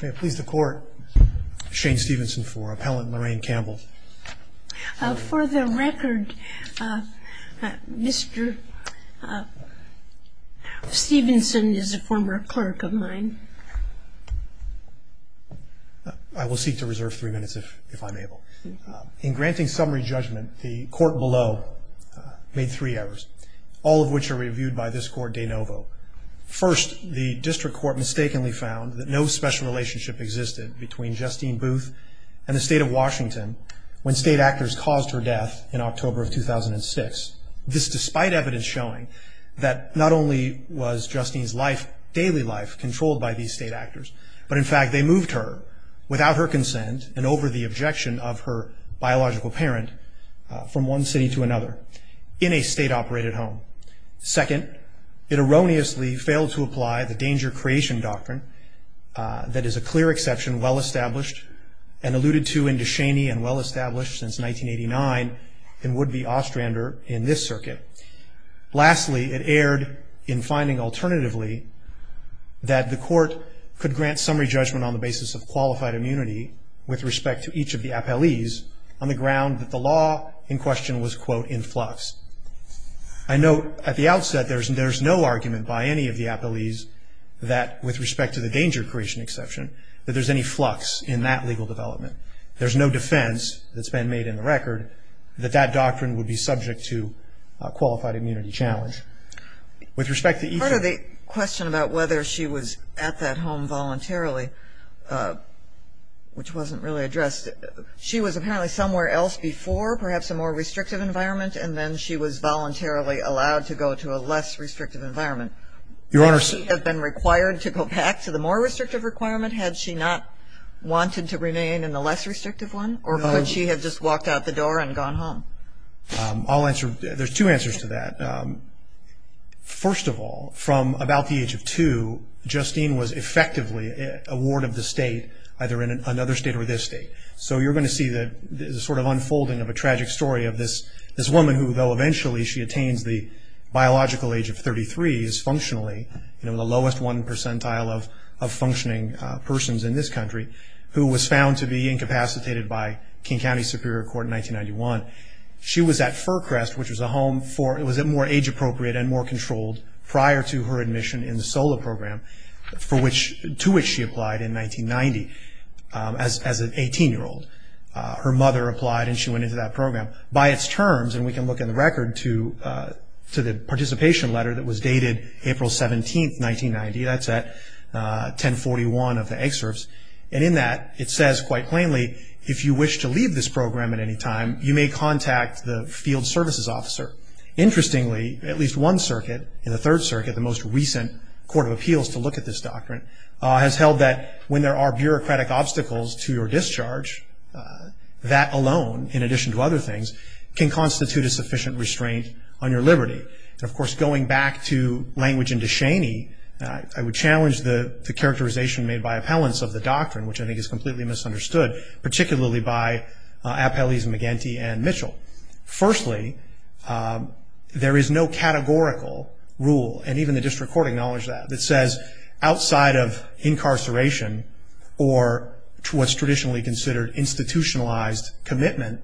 May it please the Court, Shane Stevenson for Appellant Lorraine Campbell. For the record, Mr. Stevenson is a former clerk of mine. I will seek to reserve three minutes if if I'm able. In granting summary judgment, the court below made three errors, all of which are reviewed by this court de novo. First, the District Court mistakenly found that no special relationship existed between Justine Booth and the State of Washington when state actors caused her death in October of 2006. This despite evidence showing that not only was Justine's life, daily life, controlled by these state actors, but in fact they moved her without her consent and over the objection of her biological parent from one city to another in a state-operated home. Second, it erroneously failed to apply the danger-creation doctrine that is a clear exception, well-established and alluded to in De Cheney and well-established since 1989 and would be Ostrander in this circuit. Lastly, it erred in finding alternatively that the court could grant summary judgment on the basis of qualified immunity with respect to each of the appellees on the ground that the law in question was quote in flux. I know at the outset there's no argument by any of the appellees that with respect to the danger-creation exception, that there's any flux in that legal development. There's no defense that's been made in the record that that doctrine would be subject to a qualified immunity challenge. With respect to each of the question about whether she was at that home voluntarily, which wasn't really addressed, she was apparently somewhere else before, perhaps a more restrictive environment, and then she was voluntarily allowed to go to a less restrictive environment. Your Honor. Would she have been required to go back to the more restrictive requirement had she not wanted to remain in the less restrictive one, or would she have just walked out the door and gone home? I'll answer, there's two answers to that. First of all, from about the age of two, Justine was effectively a ward of the state, either in another state or this state. So you're going to see the sort of unfolding of a tragic story of this woman who, though eventually she attains the biological age of 33, is functionally, you know, the lowest one percentile of functioning persons in this country, who was found to be incapacitated by King County Superior Court in 1991. She was at Furcrest, which was a home for, it was a more age-appropriate and more controlled prior to her admission in the SOLA program, to which she applied in Her mother applied and she went into that program. By its terms, and we can look in the record to the participation letter that was dated April 17, 1990, that's at 1041 of the excerpts, and in that it says quite plainly, if you wish to leave this program at any time, you may contact the field services officer. Interestingly, at least one circuit, in the Third Circuit, the most recent Court of Appeals to look at this doctrine, has held that when there are that alone, in addition to other things, can constitute a sufficient restraint on your liberty. And of course, going back to language in DeShaney, I would challenge the characterization made by appellants of the doctrine, which I think is completely misunderstood, particularly by Appellees McGinty and Mitchell. Firstly, there is no categorical rule, and even the district court acknowledged that, that says outside of incarceration or what's traditionally considered institutionalized commitment,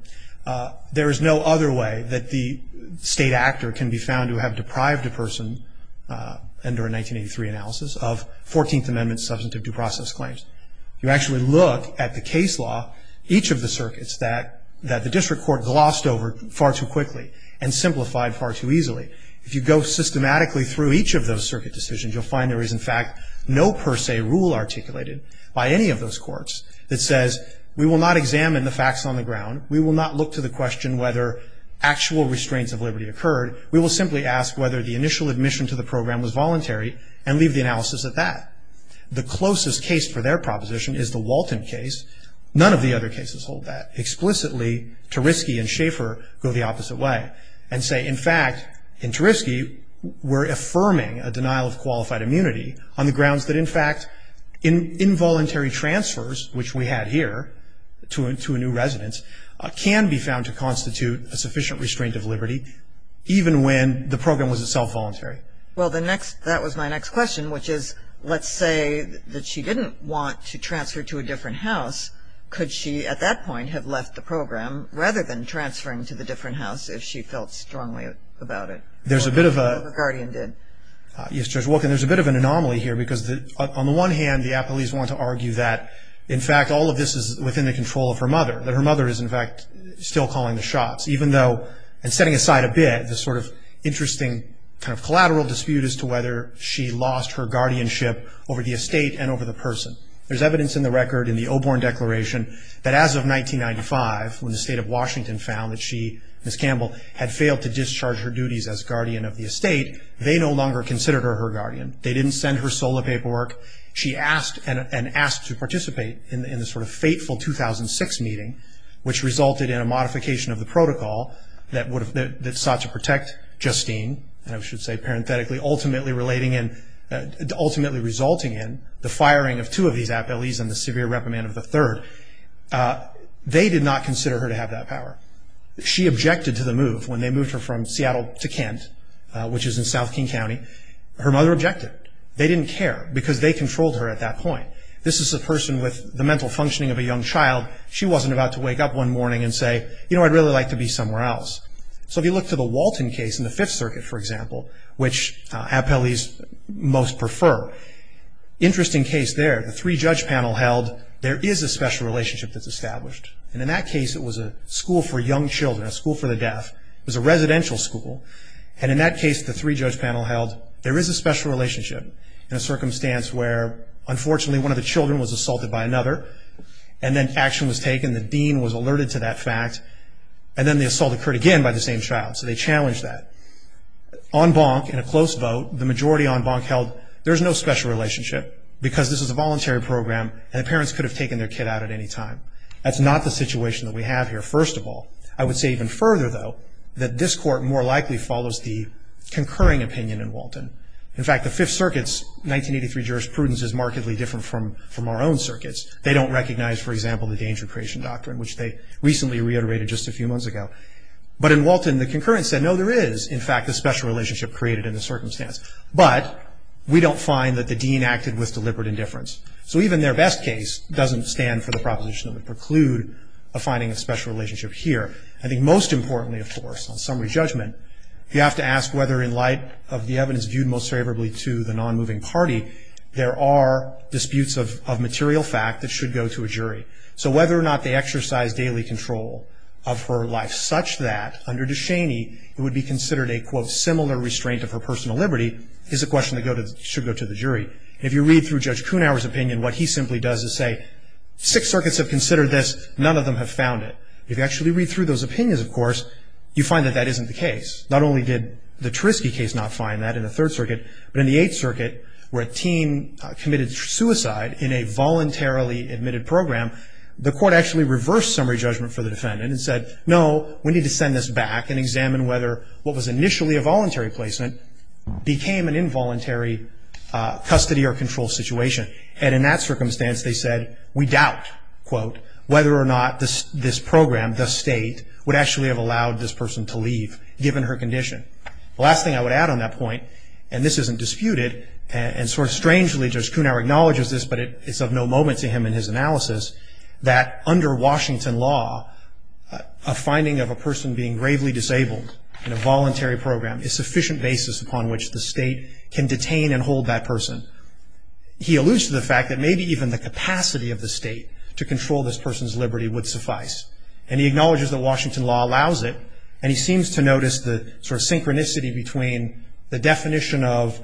there is no other way that the state actor can be found to have deprived a person, under a 1983 analysis, of 14th Amendment substantive due process claims. You actually look at the case law, each of the circuits that the district court glossed over far too quickly and simplified far too easily. If you go systematically through each of those circuit decisions, you'll find there is, in fact, no per se rule articulated by any of those courts that says, we will not examine the facts on the ground. We will not look to the question whether actual restraints of liberty occurred. We will simply ask whether the initial admission to the program was voluntary and leave the analysis at that. The closest case for their proposition is the Walton case. None of the other cases hold that. Explicitly, Tariski and Schaefer go the opposite way and say, in fact, in Tariski, we're affirming a denial of qualified immunity on the grounds that, in fact, involuntary transfers, which we had here, to a new resident, can be found to constitute a sufficient restraint of liberty, even when the program was itself voluntary. Well, the next, that was my next question, which is, let's say that she didn't want to transfer to a different house. Could she, at that point, have left the program, rather than transferring to the different house, if she felt strongly about it? There's a bit of a... Walker Guardian did. Yes, Judge Walker, there's a bit of an anomaly here, because on the one hand, the appellees want to argue that, in fact, all of this is within the control of her mother, that her mother is, in fact, still calling the shots, even though, and setting aside a bit, this sort of interesting kind of collateral dispute as to whether she lost her guardianship over the estate and over the person. There's evidence in the record, in the Oborn Declaration, that as of 1995, when the state of Washington found that she, Ms. Campbell, had failed to no longer consider her her guardian, they didn't send her SOLA paperwork, she asked, and asked to participate in this sort of fateful 2006 meeting, which resulted in a modification of the protocol that sought to protect Justine, and I should say, parenthetically, ultimately relating in, ultimately resulting in the firing of two of these appellees and the severe reprimand of the third. They did not consider her to have that power. She objected to the move, when they moved her from Seattle to Kent, which is in South King County, her mother objected. They didn't care, because they controlled her at that point. This is a person with the mental functioning of a young child. She wasn't about to wake up one morning and say, you know, I'd really like to be somewhere else. So if you look to the Walton case in the Fifth Circuit, for example, which appellees most prefer. Interesting case there, the three judge panel held, there is a special relationship that's established. And in that case, it was a school for young children, a school for the deaf. It was a residential school. And in that case, the three judge panel held, there is a special relationship in a circumstance where, unfortunately, one of the children was assaulted by another. And then action was taken. The dean was alerted to that fact. And then the assault occurred again by the same child. So they challenged that. On Bonk, in a close vote, the majority on Bonk held, there's no special relationship, because this is a voluntary program, and the parents could have taken their kid out at any time. That's not the situation that we have here, first of all. I would say even further, though, that this court more likely follows the concurring opinion in Walton. In fact, the Fifth Circuit's 1983 jurisprudence is markedly different from our own circuits. They don't recognize, for example, the danger creation doctrine, which they recently reiterated just a few months ago. But in Walton, the concurrence said, no, there is, in fact, a special relationship created in the circumstance. But we don't find that the dean acted with deliberate indifference. So even their best case doesn't stand for the proposition that would preclude a finding of special relationship here. I think most importantly, of course, on summary judgment, you have to ask whether in light of the evidence viewed most favorably to the non-moving party, there are disputes of material fact that should go to a jury. So whether or not they exercise daily control of her life such that, under Ducheney, it would be considered a, quote, similar restraint of her personal liberty, is a question that should go to the jury. If you read through Judge Kuhnhauer's opinion, what he simply does is say, six circuits have considered this, none of them have found it. If you actually read through those opinions, of course, you find that that isn't the case. Not only did the Trisky case not find that in the Third Circuit, but in the Eighth Circuit, where a teen committed suicide in a voluntarily admitted program, the court actually reversed summary judgment for the defendant and said, no, we need to send this back and examine whether what was initially a voluntary placement became an involuntary custody or control situation. And in that circumstance, they said, we doubt, quote, whether or not this program, the state, would actually have allowed this person to leave, given her condition. Last thing I would add on that point, and this isn't disputed, and sort of strangely, Judge Kuhnhauer acknowledges this, but it's of no moment to him in his analysis, that under Washington law, a finding of a person being gravely disabled in a voluntary program is sufficient basis upon which the state can detain and hold that person. He alludes to the fact that maybe even the capacity of the state to control this person's liberty would suffice. And he acknowledges that Washington law allows it. And he seems to notice the sort of synchronicity between the definition of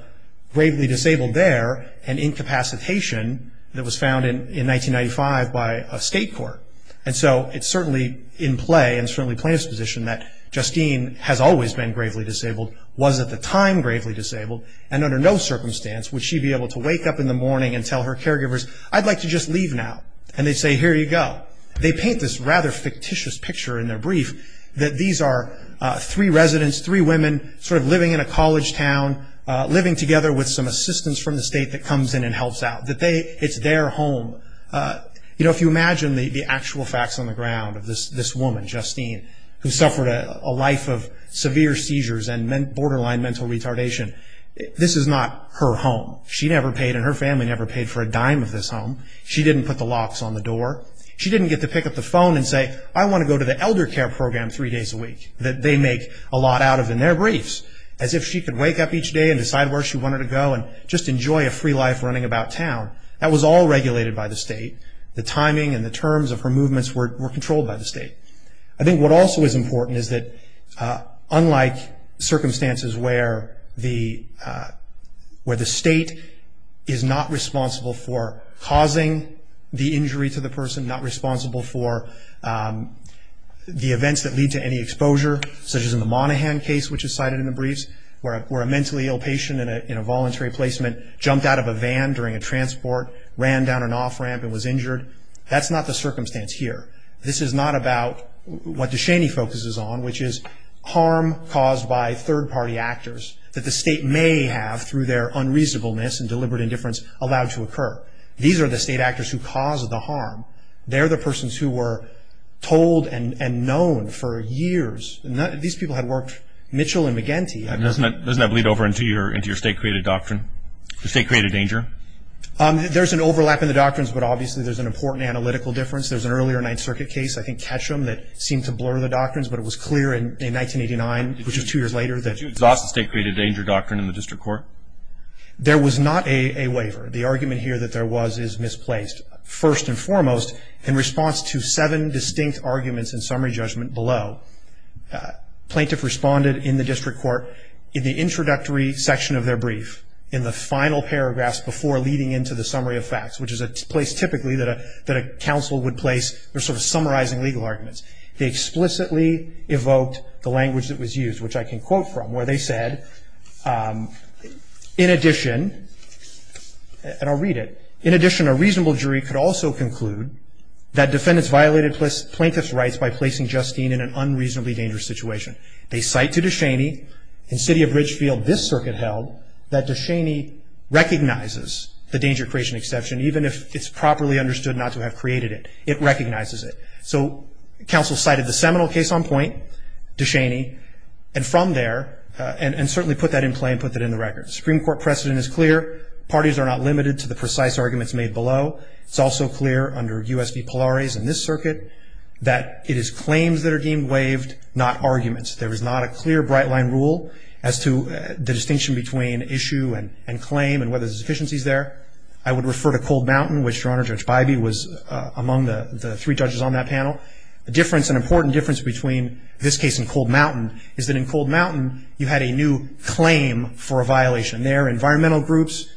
gravely disabled there and incapacitation that was found in 1995 by a state court. And so it's certainly in play, and certainly plaintiff's position, that Justine has always been gravely disabled, was at the time gravely disabled. And under no circumstance would she be able to wake up in the morning and tell her caregivers, I'd like to just leave now. And they'd say, here you go. They paint this rather fictitious picture in their brief, that these are three residents, three women, sort of living in a college town, living together with some assistance from the state that comes in and helps out. That it's their home. If you imagine the actual facts on the ground of this woman, Justine, who suffered a life of severe seizures and borderline mental retardation. This is not her home. She never paid, and her family never paid for a dime of this home. She didn't put the locks on the door. She didn't get to pick up the phone and say, I want to go to the elder care program three days a week. That they make a lot out of in their briefs. As if she could wake up each day and decide where she wanted to go and just enjoy a free life running about town. That was all regulated by the state. The timing and the terms of her movements were controlled by the state. I think what also is important is that unlike circumstances where the state is not responsible for causing the injury to the person. Not responsible for the events that lead to any exposure, such as in the Monaghan case which is cited in the briefs. Where a mentally ill patient in a voluntary placement jumped out of a van during a transport, ran down an off ramp and was injured. That's not the circumstance here. This is not about what DeShaney focuses on, which is harm caused by third party actors. That the state may have, through their unreasonableness and deliberate indifference, allowed to occur. These are the state actors who caused the harm. They're the persons who were told and known for years. These people had worked Mitchell and McGinty. Doesn't that bleed over into your state created doctrine? The state created danger? There's an overlap in the doctrines, but obviously there's an important analytical difference. There's an earlier Ninth Circuit case, I think Ketchum, that seemed to blur the doctrines. But it was clear in 1989, which is two years later, that- Did you exhaust the state created danger doctrine in the district court? There was not a waiver. The argument here that there was is misplaced. First and foremost, in response to seven distinct arguments in summary judgment below, plaintiff responded in the district court in the introductory section of their brief. In the final paragraphs before leading into the summary of facts, which is a place typically that a council would place for sort of summarizing legal arguments. They explicitly evoked the language that was used, which I can quote from, where they said, in addition, and I'll read it. In addition, a reasonable jury could also conclude that defendants violated plaintiff's rights by placing Justine in an unreasonably dangerous situation. They cite to Ducheney, in city of Ridgefield, this circuit held, that Ducheney recognizes the danger creation exception, even if it's properly understood not to have created it. It recognizes it. So, council cited the seminal case on point, Ducheney. And from there, and certainly put that in play and put that in the record. Supreme Court precedent is clear. Parties are not limited to the precise arguments made below. It's also clear under USP Polaris and this circuit, that it is claims that are deemed waived, not arguments. There is not a clear bright line rule as to the distinction between issue and claim and whether there's deficiencies there. I would refer to Cold Mountain, which Your Honor, Judge Bybee was among the three judges on that panel. The difference, an important difference between this case and Cold Mountain, is that in Cold Mountain, you had a new claim for a violation. There, environmental groups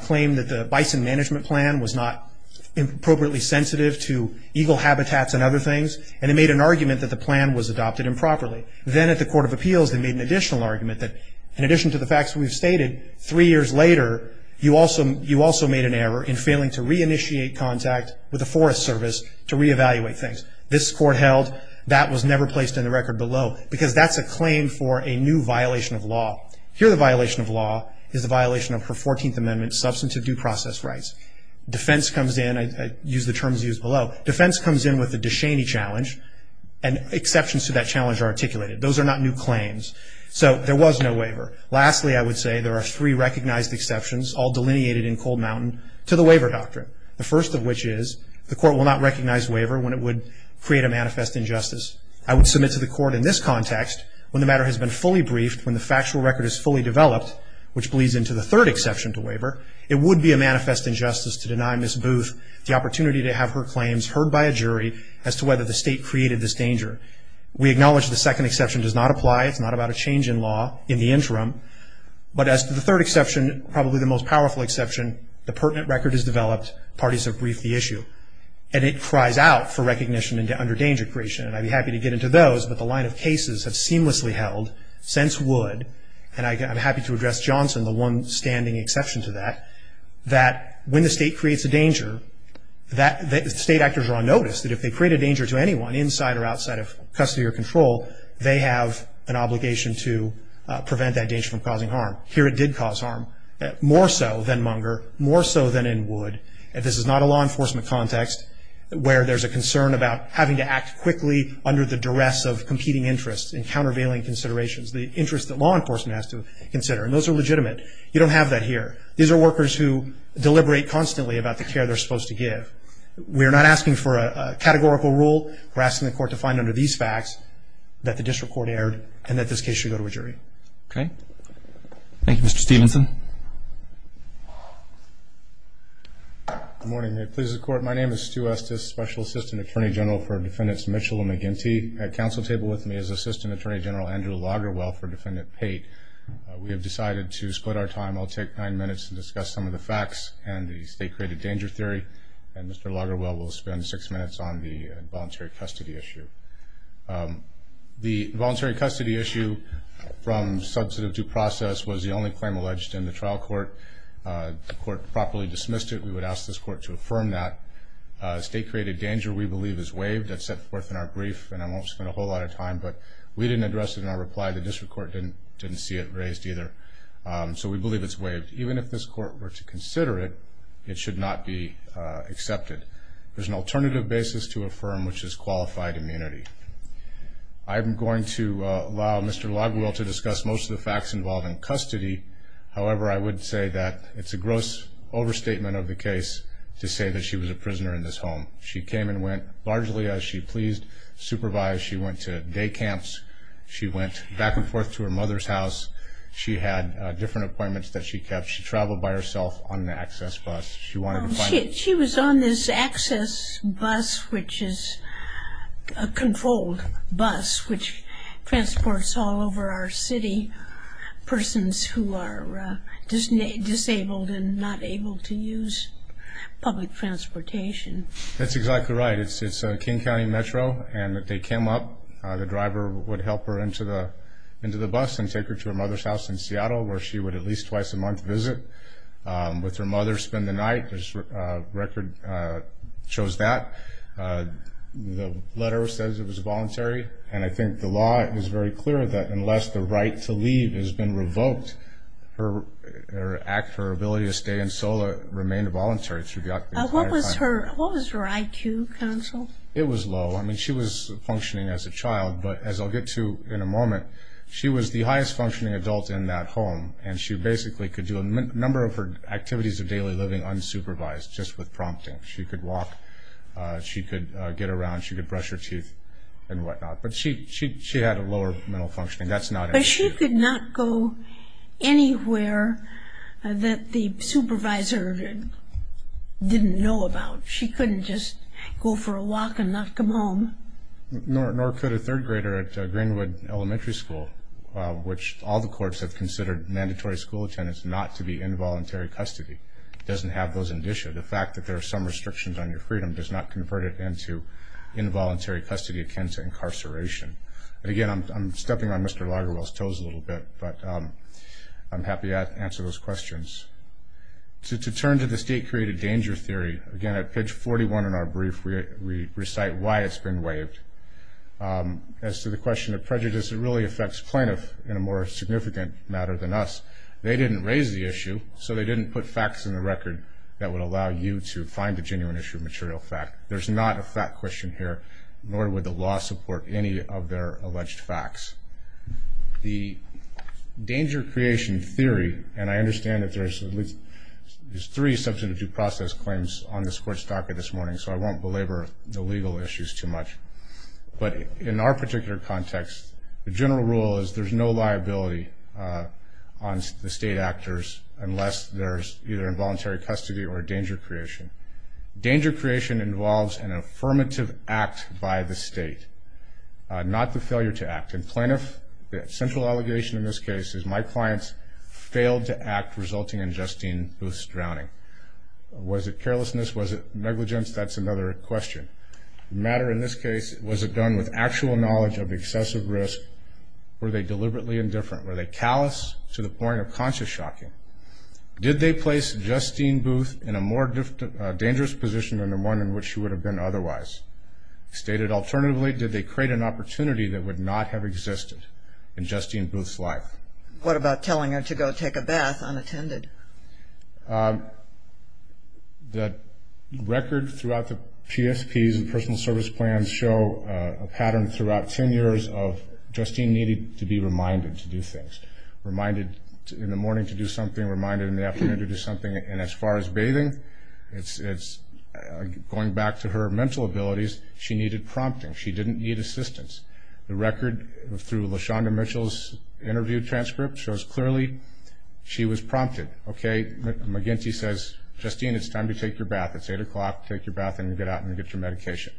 claimed that the bison management plan was not appropriately sensitive to eagle habitats and other things. And they made an argument that the plan was adopted improperly. Then at the Court of Appeals, they made an additional argument that, in addition to the facts we've stated, three years later, you also made an error in failing to re-initiate contact with a forest service to re-evaluate things. This court held that was never placed in the record below, because that's a claim for a new violation of law. Here, the violation of law is the violation of her 14th Amendment, substantive due process rights. Defense comes in, I use the terms used below. Defense comes in with a Ducheney challenge. And exceptions to that challenge are articulated. Those are not new claims. So there was no waiver. Lastly, I would say there are three recognized exceptions, all delineated in Cold Mountain, to the waiver doctrine. The first of which is, the court will not recognize waiver when it would create a manifest injustice. I would submit to the court in this context, when the matter has been fully briefed, when the factual record is fully developed, which bleeds into the third exception to waiver, it would be a manifest injustice to deny Ms. Booth the opportunity to have her created this danger. We acknowledge the second exception does not apply. It's not about a change in law in the interim. But as to the third exception, probably the most powerful exception, the pertinent record is developed, parties have briefed the issue. And it cries out for recognition under danger creation. And I'd be happy to get into those, but the line of cases have seamlessly held, since would, and I'm happy to address Johnson, the one standing exception to that, that when the state creates a danger, that state actors are on notice. That if they create a danger to anyone, inside or outside of custody or control, they have an obligation to prevent that danger from causing harm. Here it did cause harm, more so than Munger, more so than in would. And this is not a law enforcement context where there's a concern about having to act quickly under the duress of competing interests and countervailing considerations. The interest that law enforcement has to consider. And those are legitimate. You don't have that here. These are workers who deliberate constantly about the care they're supposed to give. We're not asking for a categorical rule. We're asking the court to find under these facts that the district court erred, and that this case should go to a jury. Okay, thank you, Mr. Stevenson. Good morning, may it please the court. My name is Stu Estes, Special Assistant Attorney General for Defendants Mitchell and McGinty. At council table with me is Assistant Attorney General Andrew Loggerwell for Defendant Pate. We have decided to split our time. I'll take nine minutes to discuss some of the facts and the state created danger theory. And Mr. Loggerwell will spend six minutes on the voluntary custody issue. The voluntary custody issue from substantive due process was the only claim alleged in the trial court. The court properly dismissed it. We would ask this court to affirm that. State created danger, we believe, is waived. That's set forth in our brief, and I won't spend a whole lot of time. But we didn't address it in our reply. The district court didn't see it raised either. So we believe it's waived. Even if this court were to consider it, it should not be accepted. There's an alternative basis to affirm, which is qualified immunity. I'm going to allow Mr. Loggerwell to discuss most of the facts involved in custody. However, I would say that it's a gross overstatement of the case to say that she was a prisoner in this home. She came and went, largely as she pleased, supervised. She went to day camps. She went back and forth to her mother's house. She had different appointments that she kept. She traveled by herself on the access bus. She wanted to find out. She was on this access bus, which is a controlled bus, which transports all over our city persons who are disabled and not able to use public transportation. That's exactly right. It's King County Metro. And if they came up, the driver would help her into the bus and take her to her mother's house in Seattle, where she would at least twice a month visit with her mother, spend the night. There's a record that shows that. The letter says it was voluntary. And I think the law is very clear that unless the right to leave has been revoked, her act, her ability to stay in SOLA remained voluntary. She got the entire time. What was her IQ, counsel? It was low. I mean, she was functioning as a child. But as I'll get to in a moment, she was the highest-functioning adult in that home. And she basically could do a number of her activities of daily living unsupervised, just with prompting. She could walk. She could get around. She could brush her teeth and whatnot. But she had a lower mental functioning. That's not an issue. But she could not go anywhere that the supervisor didn't know about. She couldn't just go for a walk and not come home. Nor could a third grader at Greenwood Elementary School, which all the courts have considered mandatory school attendance not to be involuntary custody, doesn't have those indicia. The fact that there are some restrictions on your freedom does not convert it into involuntary custody akin to incarceration. And again, I'm stepping on Mr. Lagerwell's toes a little bit. But I'm happy to answer those questions. To turn to the state-created danger theory, again, at page 41 in our brief, we recite why it's been waived. As to the question of prejudice, it really affects plaintiffs in a more significant matter than us. They didn't raise the issue. So they didn't put facts in the record that would allow you to find a genuine issue of material fact. There's not a fact question here. Nor would the law support any of their alleged facts. The danger creation theory, and I understand that there's at least three substantive due process claims on this Court's docket this morning. So I won't belabor the legal issues too much. But in our particular context, the general rule is there's no liability on the state actors unless there's either involuntary custody or danger creation. Danger creation involves an affirmative act by the state, not the failure to act. And plaintiff, the central allegation in this case is my clients failed to act, resulting in Justine Booth's drowning. Was it carelessness? Was it negligence? That's another question. The matter in this case, was it done with actual knowledge of excessive risk? Were they deliberately indifferent? Were they callous to the point of conscious shocking? Did they place Justine Booth in a more dangerous position than the one in which she would have been otherwise? Stated alternatively, did they create an opportunity that would not have existed in Justine Booth's life? What about telling her to go take a bath unattended? The record throughout the PSPs and personal service plans show a pattern throughout 10 years of Justine needed to be reminded to do things. Reminded in the morning to do something, reminded in the afternoon to do something. And as far as bathing, it's going back to her mental abilities, she needed prompting, she didn't need assistance. The record through LaShonda Mitchell's interview transcript shows clearly she was prompted, okay, McGinty says, Justine, it's time to take your bath. It's 8 o'clock, take your bath and get out and get your medication.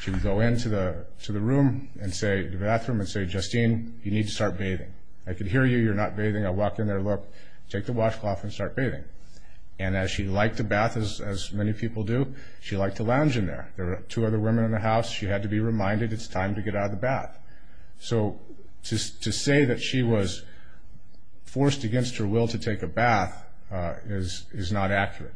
She would go into the bathroom and say, Justine, you need to start bathing. I can hear you, you're not bathing. I walk in there, look, take the washcloth and start bathing. And as she liked the bath, as many people do, she liked to lounge in there. There were two other women in the house, she had to be reminded it's time to get out of the bath. So to say that she was forced against her will to take a bath is not accurate.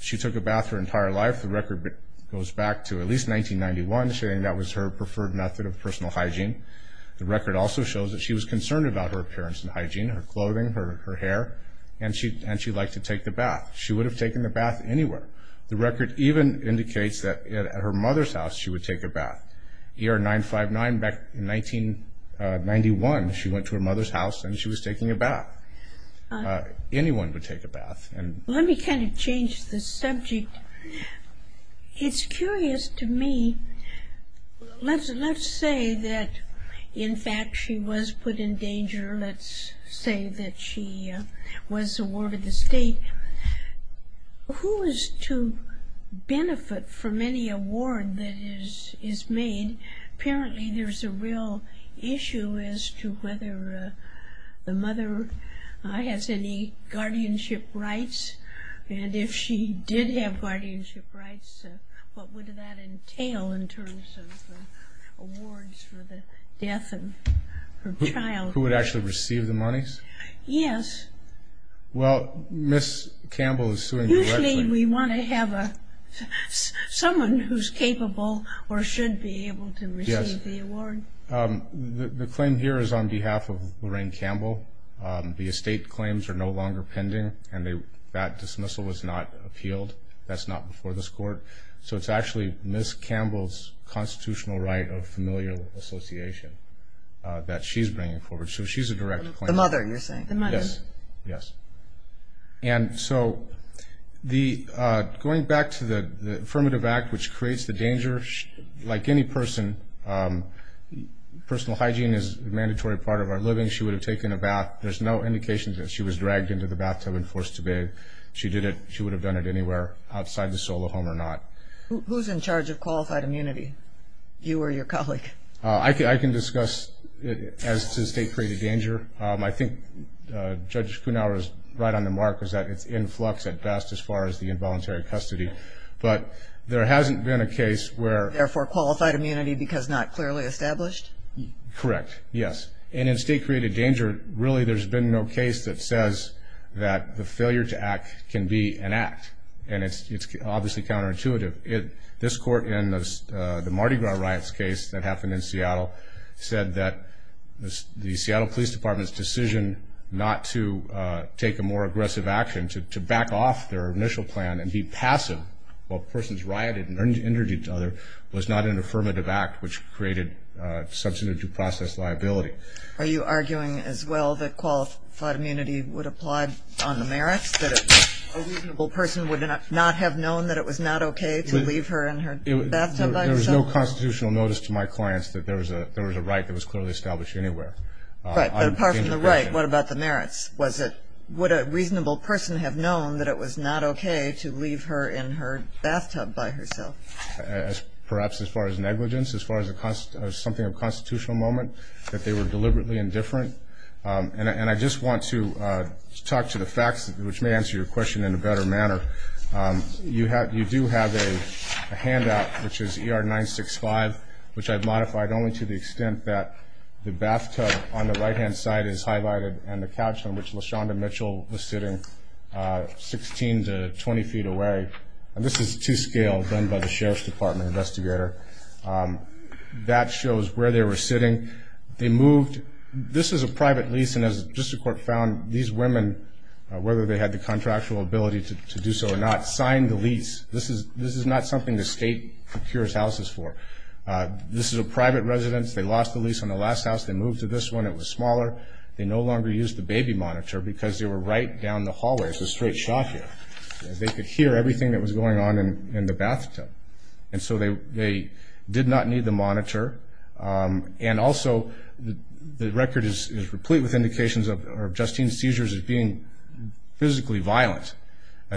She took a bath her entire life, the record goes back to at least 1991, saying that was her preferred method of personal hygiene. The record also shows that she was concerned about her appearance and hygiene, her clothing, her hair, and she liked to take the bath. She would have taken the bath anywhere. The record even indicates that at her mother's house, she would take a bath. Year 959, back in 1991, she went to her mother's house and she was taking a bath. Anyone would take a bath. Let me kind of change the subject. It's curious to me, let's say that in fact she was put in danger. Let's say that she was awarded the state. Who is to benefit from any award that is made? Apparently there's a real issue as to whether the mother has any guardianship rights. And if she did have guardianship rights, what would that entail in terms of awards for the death of her child? Who would actually receive the monies? Yes. Well, Ms. Campbell is suing directly. Usually we want to have someone who's capable or should be able to receive the award. The claim here is on behalf of Lorraine Campbell. The estate claims are no longer pending and that dismissal was not appealed. That's not before this court. So it's actually Ms. Campbell's constitutional right of familial association that she's bringing forward. So she's a direct claimant. The mother, you're saying? The mother. Yes. And so going back to the affirmative act, which creates the danger, like any person, personal hygiene is a mandatory part of our living. She would have taken a bath. There's no indication that she was dragged into the bathtub and forced to bathe. She did it, she would have done it anywhere outside the solo home or not. Who's in charge of qualified immunity, you or your colleague? I can discuss it as to state-created danger. I think Judge Kuhnhauer is right on the mark, is that it's in flux at best as far as the involuntary custody. But there hasn't been a case where- Therefore qualified immunity because not clearly established? Correct, yes. And in state-created danger, really there's been no case that says that the failure to act can be an act. And it's obviously counterintuitive. This court in the Mardi Gras riots case that happened in Seattle said that the Seattle Police Department's decision not to take a more aggressive action, to back off their initial plan and be passive while persons rioted and injured each other, was not an affirmative act, which created substantive due process liability. Are you arguing as well that qualified immunity would apply on the merits? That a reasonable person would not have known that it was not okay to leave her in her bathtub by herself? There was no constitutional notice to my clients that there was a right that was clearly established anywhere. Right, but apart from the right, what about the merits? Would a reasonable person have known that it was not okay to leave her in her bathtub by herself? Perhaps as far as negligence, as far as something of a constitutional moment, that they were deliberately indifferent. And I just want to talk to the facts, which may answer your question in a better manner, you do have a handout, which is ER 965, which I've modified only to the extent that the bathtub on the right-hand side is highlighted, and the couch on which LaShonda Mitchell was sitting, 16 to 20 feet away. And this is to scale, done by the Sheriff's Department investigator. That shows where they were sitting. They moved, this is a private lease, and as the District Court found, these women, whether they had the contractual ability to do so or not, signed the lease. This is not something the state procures houses for. This is a private residence. They lost the lease on the last house. They moved to this one. It was smaller. They no longer used the baby monitor because they were right down the hallway. It's a straight shot here. They could hear everything that was going on in the bathtub. And so they did not need the monitor. And also, the record is replete with indications of Justine's seizures as being physically violent.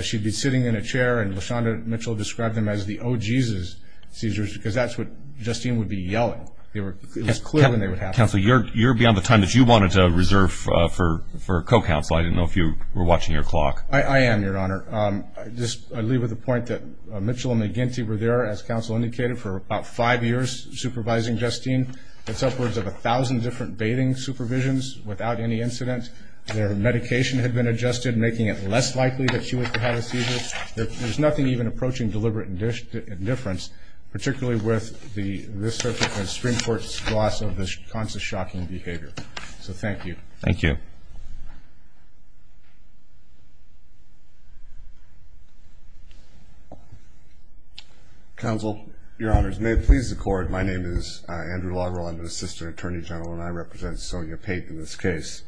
She'd be sitting in a chair, and LaShonda Mitchell described them as the oh Jesus seizures, because that's what Justine would be yelling. It was clear when they would happen. Counsel, you're beyond the time that you wanted to reserve for co-counsel. I didn't know if you were watching your clock. I am, your honor. Just, I leave with the point that Mitchell and McGinty were there, as counsel indicated, for about five years supervising Justine. It's upwards of a thousand different bathing supervisions without any incident. Their medication had been adjusted, making it less likely that she would have a seizure. There's nothing even approaching deliberate indifference, particularly with the Supreme Court's loss of this kind of shocking behavior. So thank you. Thank you. Counsel, your honors, may it please the court, my name is Andrew Loggerall. I'm an assistant attorney general, and I represent Sonia Pate in this case.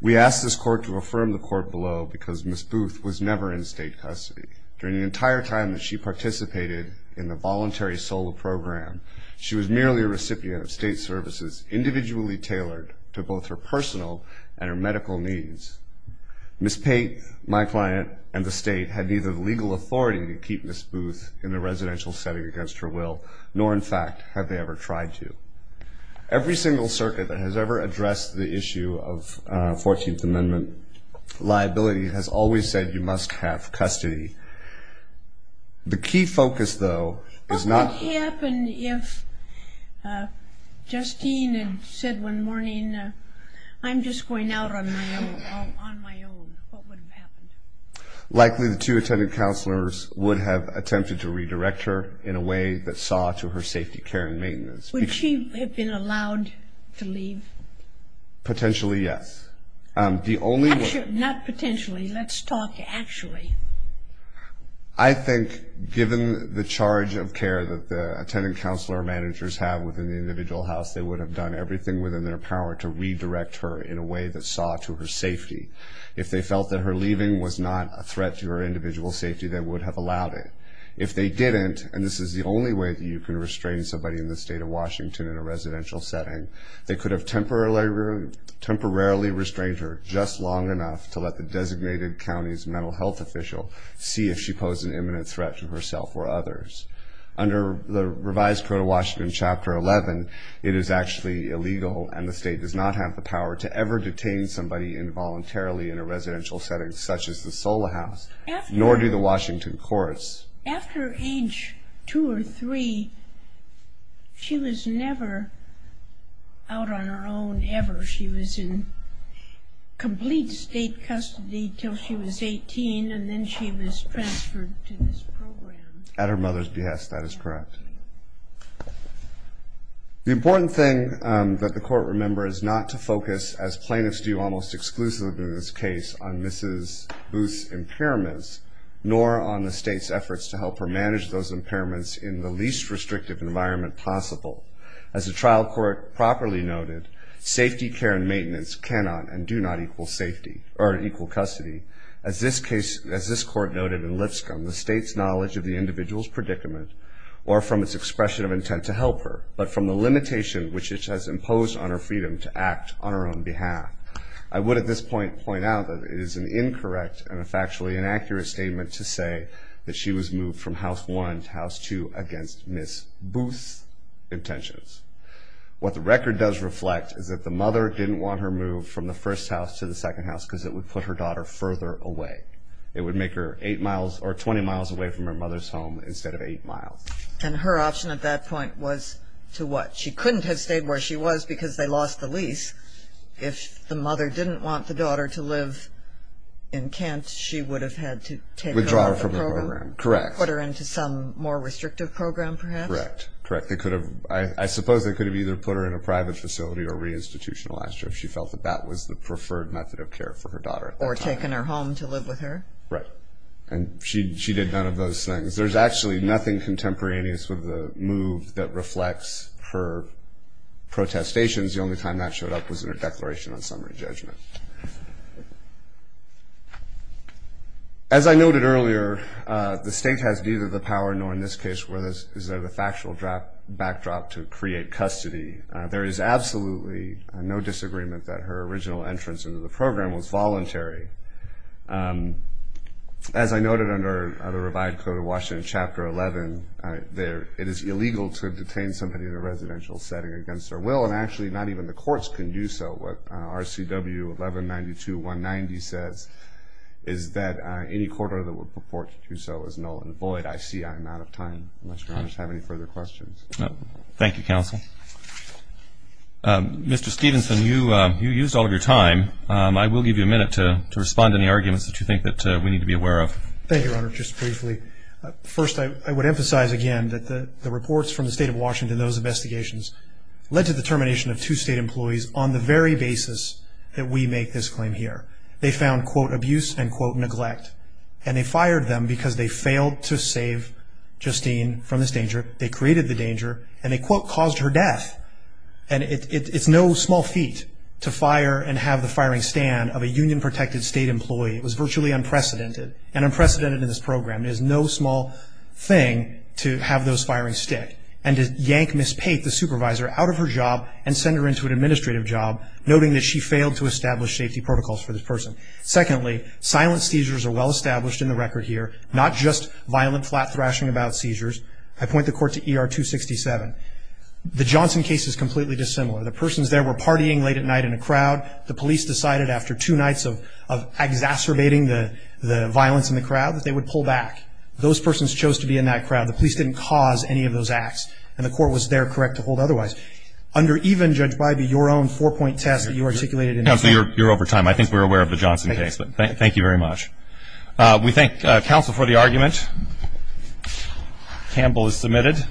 We ask this court to affirm the court below, because Ms. Booth was never in state custody. During the entire time that she participated in the voluntary SOLA program, she was merely a recipient of state services individually tailored to both her personal and her medical needs. Ms. Pate, my client, and the state had neither the legal authority to keep Ms. Booth in a residential setting against her will, nor in fact have they ever tried to. Liability has always said you must have custody. The key focus, though, is not- What would happen if Justine had said one morning, I'm just going out on my own, what would have happened? Likely the two attendant counselors would have attempted to redirect her in a way that saw to her safety, care, and maintenance. Would she have been allowed to leave? Potentially, yes. The only- Not potentially, let's talk actually. I think given the charge of care that the attendant counselor managers have within the individual house, they would have done everything within their power to redirect her in a way that saw to her safety. If they felt that her leaving was not a threat to her individual safety, they would have allowed it. If they didn't, and this is the only way that you can restrain somebody in the state of Washington in a residential setting, they could have temporarily restrained her just long enough to let the designated county's mental health official see if she posed an imminent threat to herself or others. Under the revised code of Washington, Chapter 11, it is actually illegal, and the state does not have the power to ever detain somebody involuntarily in a residential setting, such as the Solihouse, nor do the Washington courts. After age two or three, she was never out on her own, ever. She was in complete state custody until she was 18, and then she was transferred to this program. At her mother's behest, that is correct. The important thing that the court remembers not to focus, as plaintiffs do almost exclusively in this case, on Mrs. Booth's impairments, nor on the state's efforts to help her manage those impairments in the least restrictive environment possible. As the trial court properly noted, safety, care, and maintenance cannot and do not equal custody. As this court noted in Lipscomb, the state's knowledge of the individual's predicament, or from its expression of intent to help her, but from the limitation which it has imposed on her freedom to act on her own behalf. I would at this point point out that it is an incorrect and a factually inaccurate statement to say that she was moved from house one to house two against Ms. Booth's intentions. What the record does reflect is that the mother didn't want her moved from the first house to the second house because it would put her daughter further away. It would make her eight miles or 20 miles away from her mother's home instead of eight miles. And her option at that point was to what? She couldn't have stayed where she was because they lost the lease. If the mother didn't want the daughter to live in Kent, she would have had to take her out of the program. Withdraw her from the program, correct. Put her into some more restrictive program perhaps. Correct, correct. They could have, I suppose they could have either put her in a private facility or re-institutionalized her if she felt that that was the preferred method of care for her daughter at that time. Or taken her home to live with her. Right, and she did none of those things. There's actually nothing contemporaneous with the move that reflects her protestations. The only time that showed up was in her declaration on summary judgment. As I noted earlier, the state has neither the power nor in this case is there the factual backdrop to create custody. There is absolutely no disagreement that her original entrance into the program was voluntary. As I noted under the Revised Code of Washington, Chapter 11, it is illegal to detain somebody in a residential setting against their will. And actually, not even the courts can do so. What RCW 1192-190 says is that any court order that would purport to do so is null and void. I see I'm out of time, unless your honors have any further questions. Thank you, counsel. Mr. Stevenson, you used all of your time. I will give you a minute to respond to any arguments that you think that we need to be aware of. Thank you, your honor, just briefly. First, I would emphasize again that the reports from the state of Washington, those investigations, led to the termination of two state employees on the very basis that we make this claim here. They found, quote, abuse and, quote, neglect. And they fired them because they failed to save Justine from this danger. They created the danger, and they, quote, caused her death. And it's no small feat to fire and have the firing stand of a union protected state employee. It was virtually unprecedented, and unprecedented in this program. It is no small thing to have those firings stick. And to yank Ms. Pate, the supervisor, out of her job and send her into an administrative job, noting that she failed to establish safety protocols for this person. Secondly, silent seizures are well established in the record here, not just violent flat thrashing about seizures. I point the court to ER 267. The Johnson case is completely dissimilar. The persons there were partying late at night in a crowd. The police decided after two nights of exacerbating the violence in the crowd that they would pull back. Those persons chose to be in that crowd. The police didn't cause any of those acts. And the court was there correct to hold otherwise. Under even, Judge Bybee, your own four point test that you articulated in- Counselor, you're over time. I think we're aware of the Johnson case, but thank you very much. We thank counsel for the argument. Campbell is submitted.